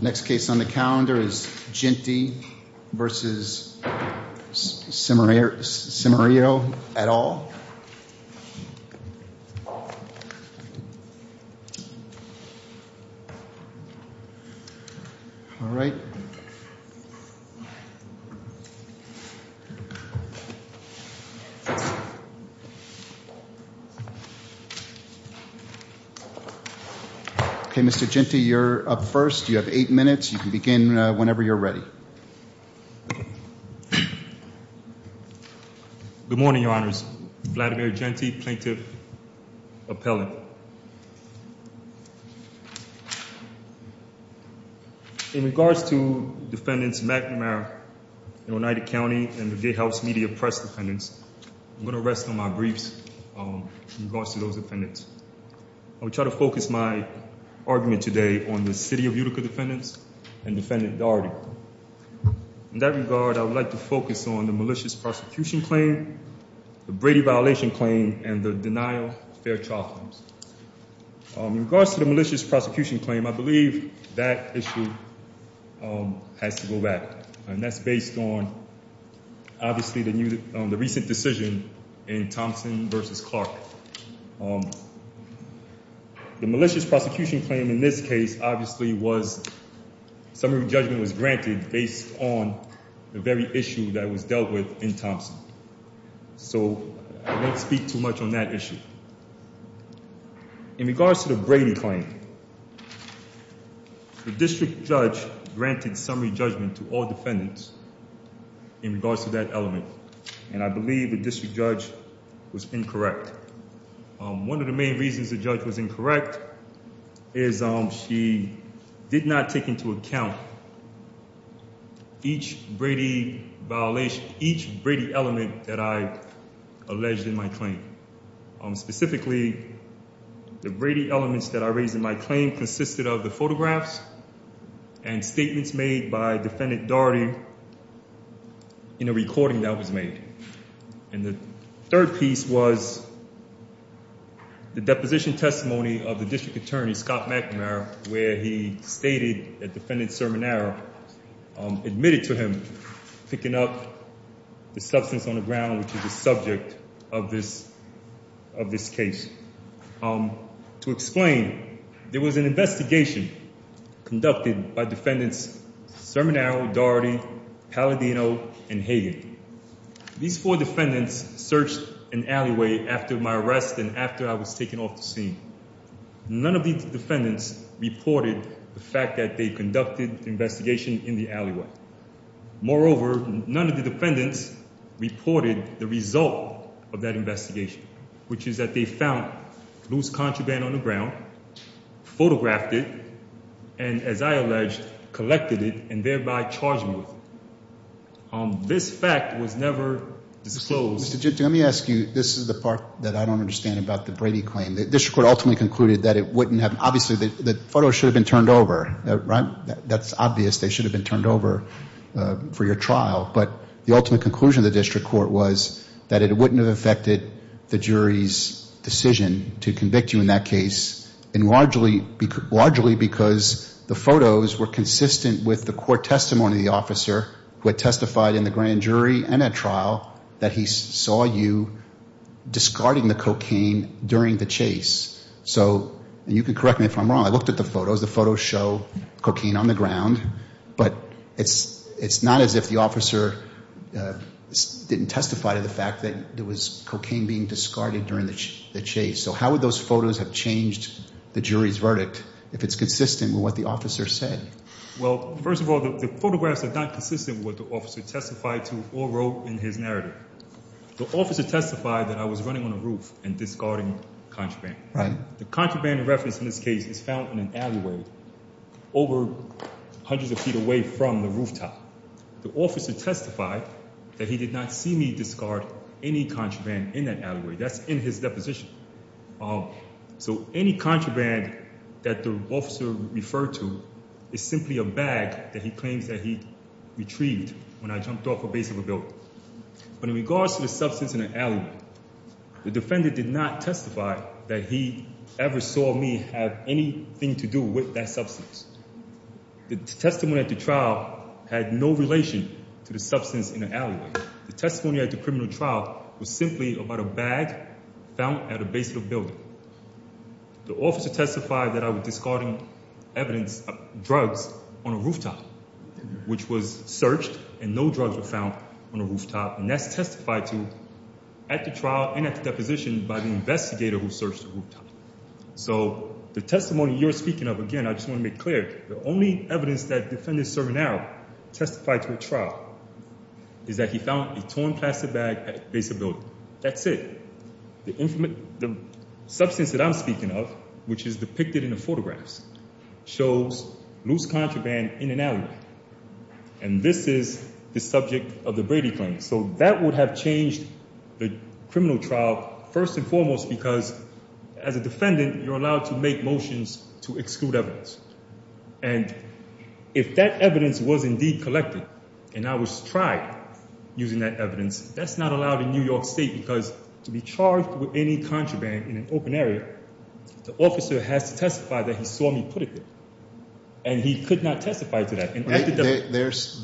Next case on the calendar is Jeanty v. Cimarillo et al. Mr. Jeanty, you're up first. You have eight minutes. You can begin whenever you're ready. Good morning, Your Honors. Vladimir Jeanty, Plaintiff Appellant. In regards to Defendants McNamara and Oneida County and the Gatehouse Media Press Defendants, I'm going to rest on my briefs in regards to those defendants. I will try to focus my argument today on the City of Utica defendants and Defendant Daugherty. In that regard, I would like to focus on the malicious prosecution claim, the Brady violation claim, and the denial of fair trial claims. In regards to the malicious prosecution claim, I believe that issue has to go back. And that's based on, obviously, the recent decision in Thompson v. Clark. The malicious prosecution claim in this case, obviously, was summary judgment was granted based on the very issue that was dealt with in Thompson. So I won't speak too much on that issue. In regards to the Brady claim, the district judge granted summary judgment to all defendants in regards to that element. And I believe the district judge was incorrect. One of the main reasons the judge was incorrect is she did not take into account each Brady violation, each Brady element that I alleged in my claim. Specifically, the Brady elements that I raised in my claim consisted of the photographs and statements made by Defendant Daugherty in a recording that was made. And the third piece was the deposition testimony of the district attorney, Scott McNamara, where he stated that Defendant Cerminara admitted to him picking up the substance on the ground, which is the subject of this case. To explain, there was an investigation conducted by Defendants Cerminara, Daugherty, Palladino, and Hagan. These four defendants searched an alleyway after my arrest and after I was taken off the scene. None of these defendants reported the fact that they conducted the investigation in the alleyway. Moreover, none of the defendants reported the result of that investigation, which is that they found loose contraband on the ground, photographed it, and as I alleged, collected it, and thereby charged me with it. This fact was never disclosed. Mr. Ginto, let me ask you, this is the part that I don't understand about the Brady claim. The district court ultimately concluded that it wouldn't have, obviously the photos should have been turned over, right? That's obvious they should have been turned over for your trial, but the ultimate conclusion of the district court was that it wouldn't have affected the jury's decision to convict you in that case, and largely because the photos were consistent with the court testimony of the officer who had testified in the grand jury and at trial that he saw you discarding the cocaine during the chase. So, and you can correct me if I'm wrong, I looked at the photos, the photos show cocaine on the ground, but it's not as if the officer didn't testify to the fact that there was cocaine being discarded during the chase. So how would those photos have changed the jury's verdict if it's consistent with what the officer said? Well, first of all, the photographs are not consistent with what the officer testified to or wrote in his narrative. The officer testified that I was running on the roof and discarding contraband. Right. The contraband referenced in this case is found in an alleyway over hundreds of feet away from the rooftop. The officer testified that he did not see me discard any contraband in that alleyway. That's in his deposition. So any contraband that the officer referred to is simply a bag that he claims that he retrieved when I jumped off a base of a building. But in regards to the substance in the alleyway, the defender did not testify that he ever saw me have anything to do with that substance. The testimony at the trial had no relation to the substance in the alleyway. The testimony at the criminal trial was simply about a bag found at a base of a building. The officer testified that I was discarding evidence of drugs on a rooftop, which was searched, and no drugs were found on the rooftop. And that's testified to at the trial and at the deposition by the investigator who searched the rooftop. So the testimony you're speaking of, again, I just want to make clear, the only evidence that the defendant is serving now testified to at trial is that he found a torn plastic bag at a base of a building. That's it. The substance that I'm speaking of, which is depicted in the photographs, shows loose contraband in an alleyway. And this is the subject of the Brady claim. So that would have changed the criminal trial first and foremost because as a defendant, you're allowed to make motions to exclude evidence. And if that evidence was indeed collected and I was tried using that evidence, that's not allowed in New York State because to be charged with any contraband in an open area, the officer has to testify that he saw me put it there. And he could not testify to that.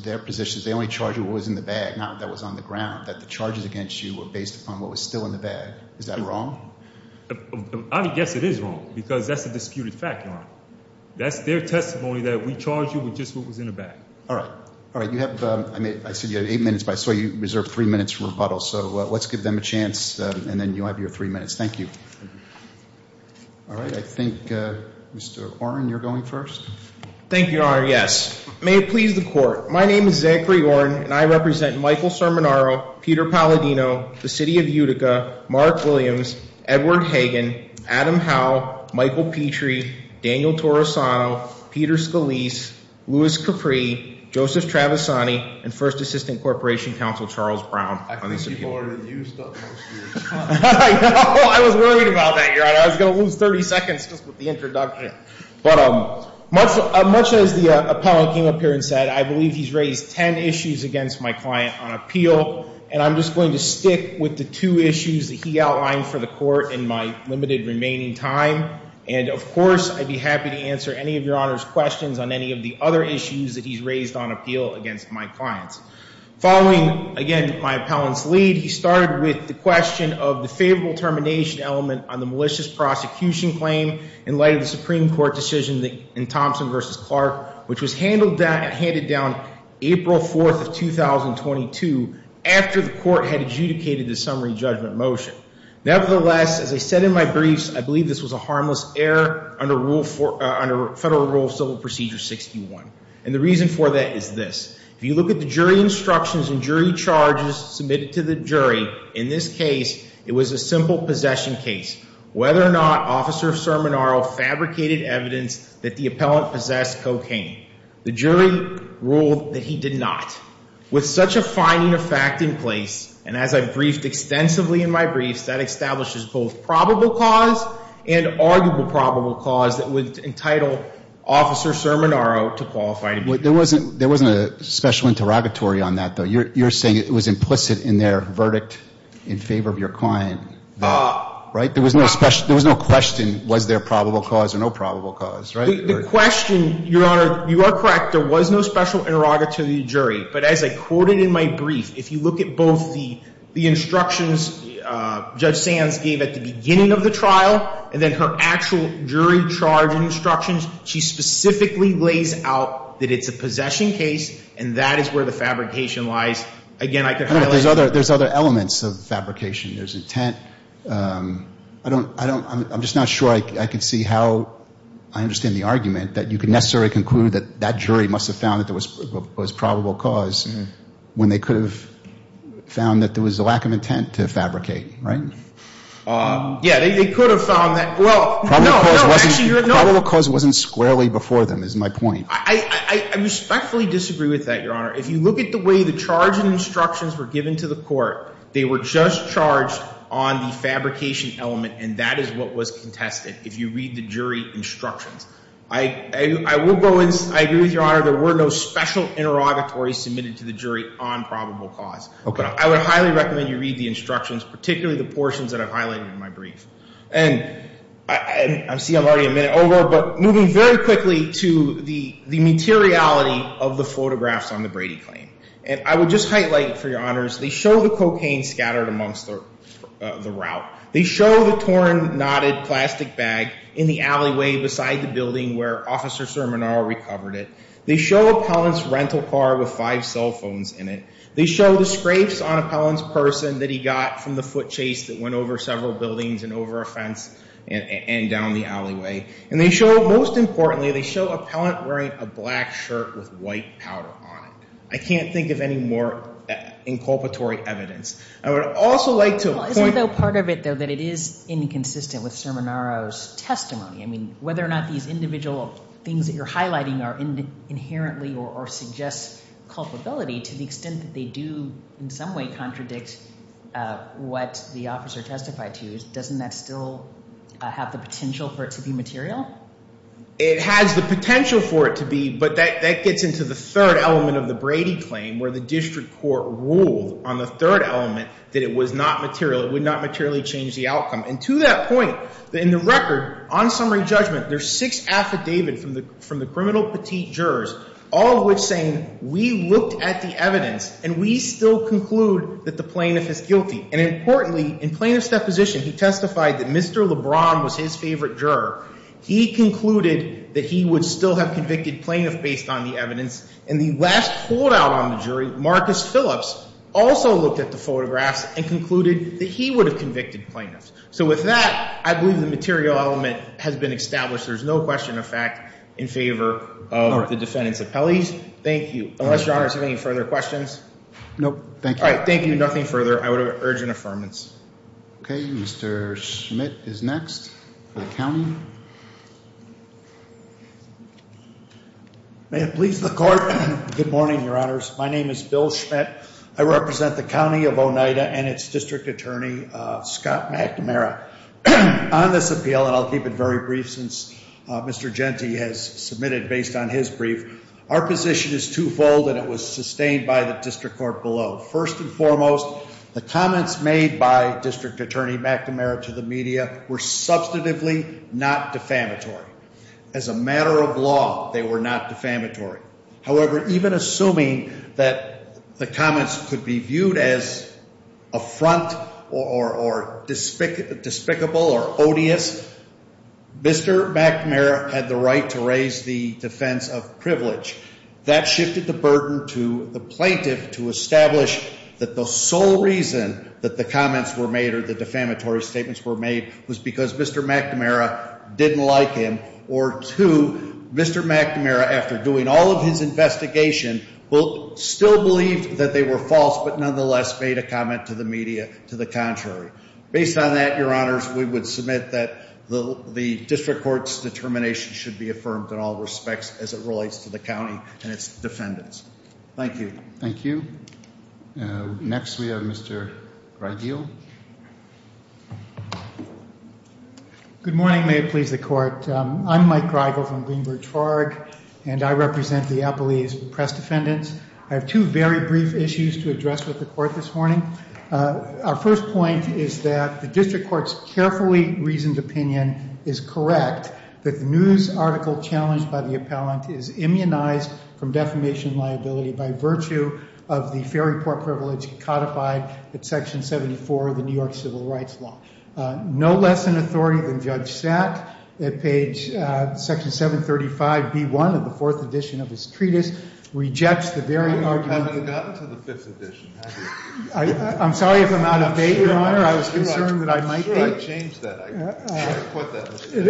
Their position is they only charged you with what was in the bag, not what was on the ground, that the charges against you were based upon what was still in the bag. Is that wrong? I would guess it is wrong because that's a disputed fact, Your Honor. That's their testimony that we charge you with just what was in the bag. All right. All right. You have, I mean, I said you had eight minutes, but I saw you reserved three minutes for rebuttal. So let's give them a chance and then you'll have your three minutes. Thank you. All right. I think Mr. Oren, you're going first. Thank you, Your Honor. Yes. May it please the court. My name is Zachary Oren and I represent Michael Cerminaro, Peter Palladino, the City of Utica, Mark Williams, Edward Hagan, Adam Howe, Michael Petrie, Daniel Torosano, Peter Scalise, Louis Capri, Joseph Travisani, and First Assistant Corporation Counsel Charles Brown. I can see more than you stuck most of your time. I know. I was worried about that, Your Honor. I was going to lose 30 seconds just with the introduction. But much as the appellant came up here and said, I believe he's raised 10 issues against my client on appeal. And I'm just going to stick with the two issues that he outlined for the court in my limited remaining time. And, of course, I'd be happy to answer any of Your Honor's questions on any of the other issues that he's raised on appeal against my clients. Following, again, my appellant's lead, he started with the question of the favorable termination element on the malicious prosecution claim in light of the Supreme Court decision in Thompson v. Clark, which was handed down April 4th of 2022 after the court had adjudicated the summary judgment motion. Nevertheless, as I said in my briefs, I believe this was a harmless error under Federal Rule of Civil Procedure 61. And the reason for that is this. If you look at the jury instructions and jury charges submitted to the jury, in this case, it was a simple possession case. Whether or not Officer Sermonaro fabricated evidence that the appellant possessed cocaine, the jury ruled that he did not. With such a finding of fact in place, and as I've briefed extensively in my briefs, that establishes both probable cause and arguable probable cause that would entitle Officer Sermonaro to qualify to be convicted. There wasn't a special interrogatory on that, though. You're saying it was implicit in their verdict in favor of your client, right? There was no question was there probable cause or no probable cause, right? The question, Your Honor, you are correct. But as I quoted in my brief, if you look at both the instructions Judge Sands gave at the beginning of the trial and then her actual jury charge instructions, she specifically lays out that it's a possession case, and that is where the fabrication lies. Again, I could highlight that. There's other elements of fabrication. There's intent. I'm just not sure I can see how I understand the argument that you could necessarily conclude that that jury must have found that there was probable cause when they could have found that there was a lack of intent to fabricate, right? Yeah, they could have found that. Well, no, no. Probable cause wasn't squarely before them is my point. I respectfully disagree with that, Your Honor. If you look at the way the charge and instructions were given to the court, they were just charged on the fabrication element, and that is what was contested if you read the jury instructions. I will go in. I agree with you, Your Honor. There were no special interrogatories submitted to the jury on probable cause. I would highly recommend you read the instructions, particularly the portions that I've highlighted in my brief. And I see I'm already a minute over, but moving very quickly to the materiality of the photographs on the Brady claim. And I would just highlight, for your honors, they show the cocaine scattered amongst the route. They show the torn, knotted plastic bag in the alleyway beside the building where Officer Sermonar recovered it. They show Appellant's rental car with five cell phones in it. They show the scrapes on Appellant's person that he got from the foot chase that went over several buildings and over a fence and down the alleyway. And they show, most importantly, they show Appellant wearing a black shirt with white powder on it. I can't think of any more inculpatory evidence. I would also like to point out. Isn't, though, part of it, though, that it is inconsistent with Sermonar's testimony? I mean, whether or not these individual things that you're highlighting are inherently or suggest culpability to the extent that they do in some way contradict what the officer testified to, doesn't that still have the potential for it to be material? It has the potential for it to be, but that gets into the third element of the Brady claim where the district court ruled on the third element that it was not material. It would not materially change the outcome. And to that point, in the record, on summary judgment, there's six affidavit from the criminal petite jurors, all of which saying we looked at the evidence and we still conclude that the plaintiff is guilty. And importantly, in plaintiff's deposition, he testified that Mr. LeBron was his favorite juror. He concluded that he would still have convicted plaintiff based on the evidence. And the last holdout on the jury, Marcus Phillips, also looked at the photographs and concluded that he would have convicted plaintiffs. So with that, I believe the material element has been established. There's no question of fact in favor of the defendant's appellees. Thank you. Unless your Honor has any further questions. Nope. Thank you. All right. Thank you. Nothing further. I would urge an affirmance. Okay. Mr. Schmidt is next. The county. May it please the court. Good morning, Your Honors. My name is Bill Schmidt. I represent the county of Oneida and its district attorney, Scott McNamara. On this appeal, and I'll keep it very brief since Mr. Gente has submitted based on his brief, our position is twofold and it was sustained by the district court below. First and foremost, the comments made by district attorney McNamara to the media were substantively not defamatory. As a matter of law, they were not defamatory. However, even assuming that the comments could be viewed as affront or despicable or odious, Mr. McNamara had the right to raise the defense of privilege. That shifted the burden to the plaintiff to establish that the sole reason that the comments were made or the defamatory statements were made was because Mr. McNamara didn't like him. Or two, Mr. McNamara, after doing all of his investigation, still believed that they were false but nonetheless made a comment to the media to the contrary. Based on that, Your Honors, we would submit that the district court's determination should be affirmed in all respects as it relates to the county and its defendants. Thank you. Thank you. Next we have Mr. Greideel. Thank you. Good morning. May it please the court. I'm Mike Greideel from Greenbridge Farg, and I represent the Appalachian Press Defendants. I have two very brief issues to address with the court this morning. Our first point is that the district court's carefully reasoned opinion is correct that the news article challenged by the appellant is immunized from defamation liability by virtue of the fair report privilege codified at Section 74 of the New York Civil Rights Law. No less an authority than Judge Sack at page Section 735B1 of the fourth edition of his treatise rejects the very argument. You haven't gotten to the fifth edition, have you? I'm sorry if I'm out of date, Your Honor. I was concerned that I might be. I'm sure I changed that. I should have put that in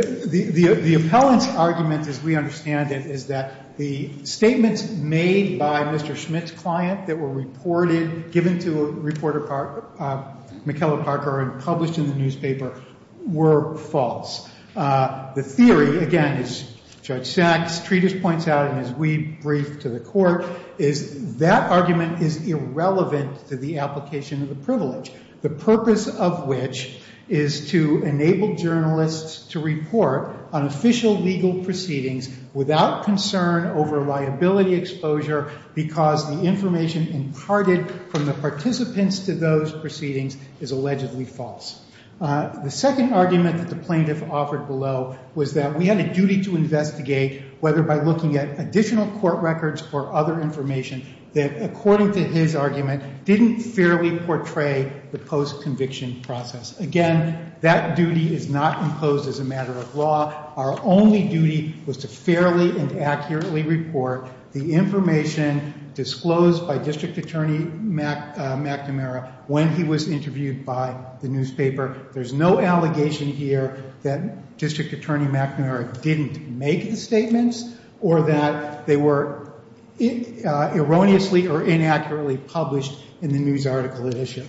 there. The appellant's argument, as we understand it, is that the statements made by Mr. Schmitt's client that were reported, given to reporter McKellar Parker and published in the newspaper, were false. The theory, again, as Judge Sack's treatise points out and as we brief to the court, is that argument is irrelevant to the application of the privilege, the purpose of which is to enable journalists to report on official legal proceedings without concern over liability exposure because the information imparted from the participants to those proceedings is allegedly false. The second argument that the plaintiff offered below was that we had a duty to investigate whether by looking at additional court records or other information that, according to his argument, didn't fairly portray the post-conviction process. Again, that duty is not imposed as a matter of law. Our only duty was to fairly and accurately report the information disclosed by District Attorney McNamara when he was interviewed by the newspaper. There's no allegation here that District Attorney McNamara didn't make the statements or that they were erroneously or inaccurately published in the news article edition.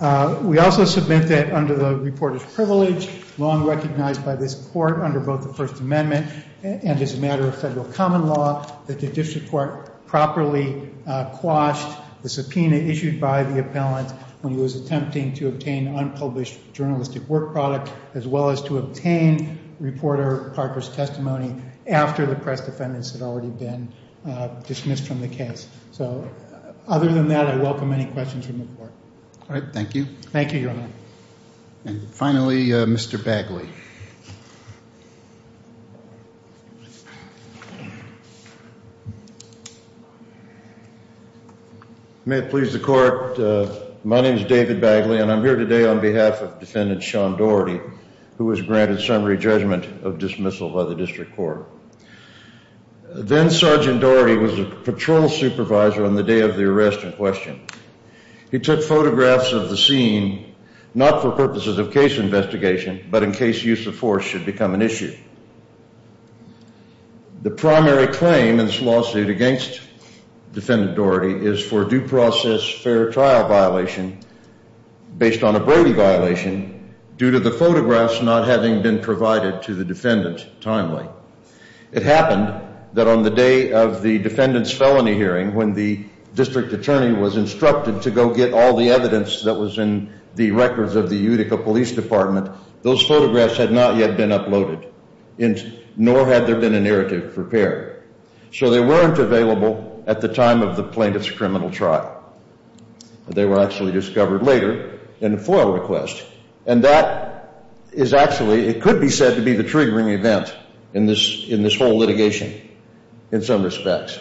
We also submit that under the reporter's privilege, long recognized by this court under both the First Amendment and as a matter of federal common law, that the district court properly quashed the subpoena issued by the appellant when he was attempting to obtain unpublished journalistic work product, as well as to obtain reporter Parker's testimony after the press defendants had already been dismissed from the case. Other than that, I welcome any questions from the court. Thank you. Thank you, Your Honor. Finally, Mr. Bagley. May it please the court. My name is David Bagley, and I'm here today on behalf of Defendant Sean Doherty, who was granted summary judgment of dismissal by the district court. Then Sergeant Doherty was a patrol supervisor on the day of the arrest in question. He took photographs of the scene, not for purposes of case investigation, but in case use of force should become an issue. The primary claim in this lawsuit against Defendant Doherty is for due process fair trial violation based on a Brady violation due to the photographs not having been provided to the defendant timely. It happened that on the day of the defendant's felony hearing, when the district attorney was instructed to go get all the evidence that was in the records of the Utica Police Department, those photographs had not yet been uploaded, nor had there been a narrative prepared. So they weren't available at the time of the plaintiff's criminal trial. They were actually discovered later in a FOIA request. And that is actually – it could be said to be the triggering event in this whole litigation in some respects.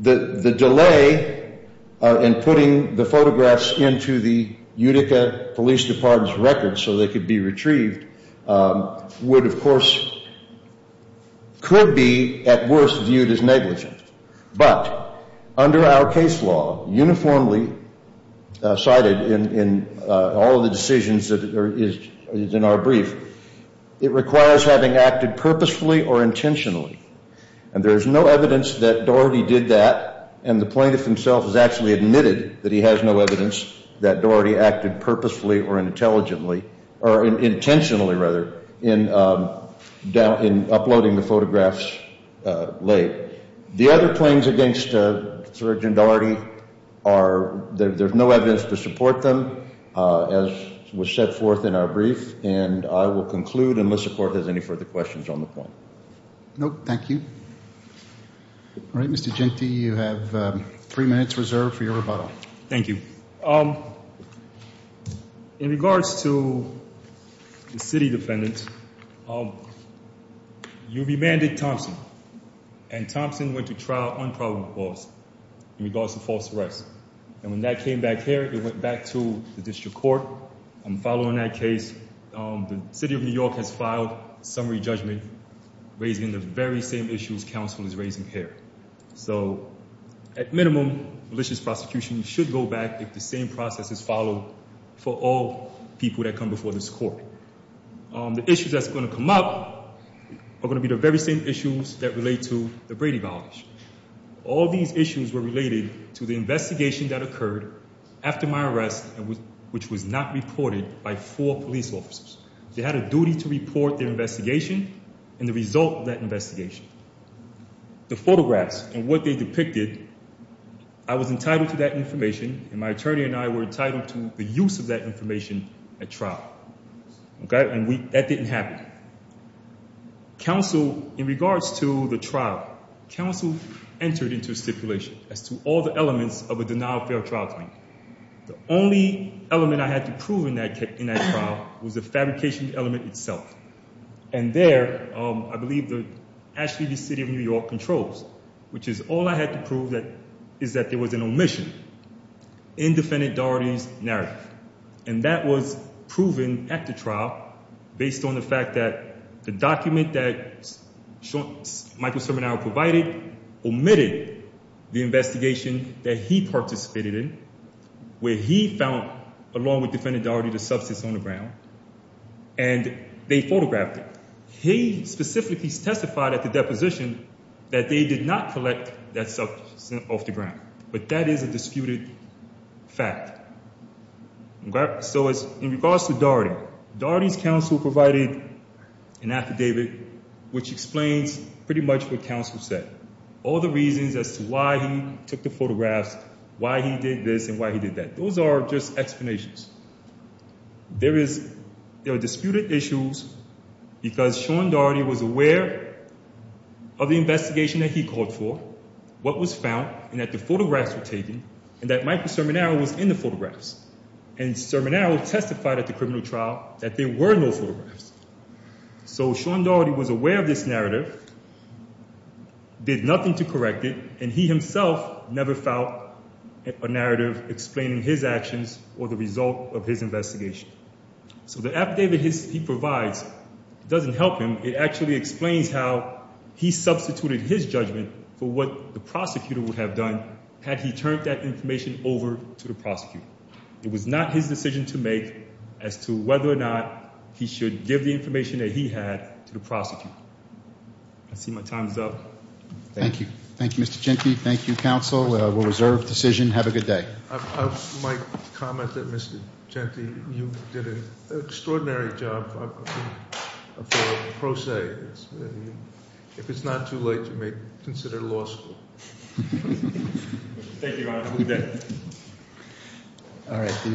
The delay in putting the photographs into the Utica Police Department's records so they could be retrieved would of course – could be at worst viewed as negligent. But under our case law, uniformly cited in all of the decisions that is in our brief, it requires having acted purposefully or intentionally. And there is no evidence that Doherty did that. And the plaintiff himself has actually admitted that he has no evidence that Doherty acted purposefully or intelligently – or intentionally, rather, in uploading the photographs late. The other claims against Sgt. Doherty are – there's no evidence to support them as was set forth in our brief. And I will conclude unless the Court has any further questions on the point. No, thank you. All right, Mr. Genti, you have three minutes reserved for your rebuttal. Thank you. In regards to the city defendant, you remanded Thompson. And Thompson went to trial on probable cause in regards to false arrest. And when that came back here, it went back to the district court. And following that case, the city of New York has filed a summary judgment raising the very same issues counsel is raising here. So at minimum, malicious prosecution should go back if the same process is followed for all people that come before this court. The issues that's going to come up are going to be the very same issues that relate to the Brady violence. All these issues were related to the investigation that occurred after my arrest, which was not reported by four police officers. They had a duty to report their investigation and the result of that investigation. The photographs and what they depicted, I was entitled to that information. And my attorney and I were entitled to the use of that information at trial. And that didn't happen. Counsel, in regards to the trial, counsel entered into a stipulation as to all the elements of a denial of fair trial claim. The only element I had to prove in that trial was the fabrication element itself. And there, I believe that actually the city of New York controls, which is all I had to prove that is that there was an omission in defendant Doherty's narrative. And that was proven at the trial based on the fact that the document that Michael Sermonau provided omitted the investigation that he participated in. Where he found, along with defendant Doherty, the substance on the ground. And they photographed it. He specifically testified at the deposition that they did not collect that substance off the ground. But that is a disputed fact. So, in regards to Doherty, Doherty's counsel provided an affidavit which explains pretty much what counsel said. All the reasons as to why he took the photographs, why he did this and why he did that. Those are just explanations. There are disputed issues because Sean Doherty was aware of the investigation that he called for. What was found and that the photographs were taken and that Michael Sermonau was in the photographs. And Sermonau testified at the criminal trial that there were no photographs. So, Sean Doherty was aware of this narrative. Did nothing to correct it and he himself never felt a narrative explaining his actions or the result of his investigation. So, the affidavit he provides doesn't help him. It actually explains how he substituted his judgment for what the prosecutor would have done had he turned that information over to the prosecutor. It was not his decision to make as to whether or not he should give the information that he had to the prosecutor. I see my time's up. Thank you. Thank you, Mr. Gentry. Thank you, counsel. We'll reserve decision. Have a good day. I might comment that Mr. Gentry, you did an extraordinary job for a pro se. If it's not too late, you may consider law school. Thank you, Your Honor. Have a good day. All right.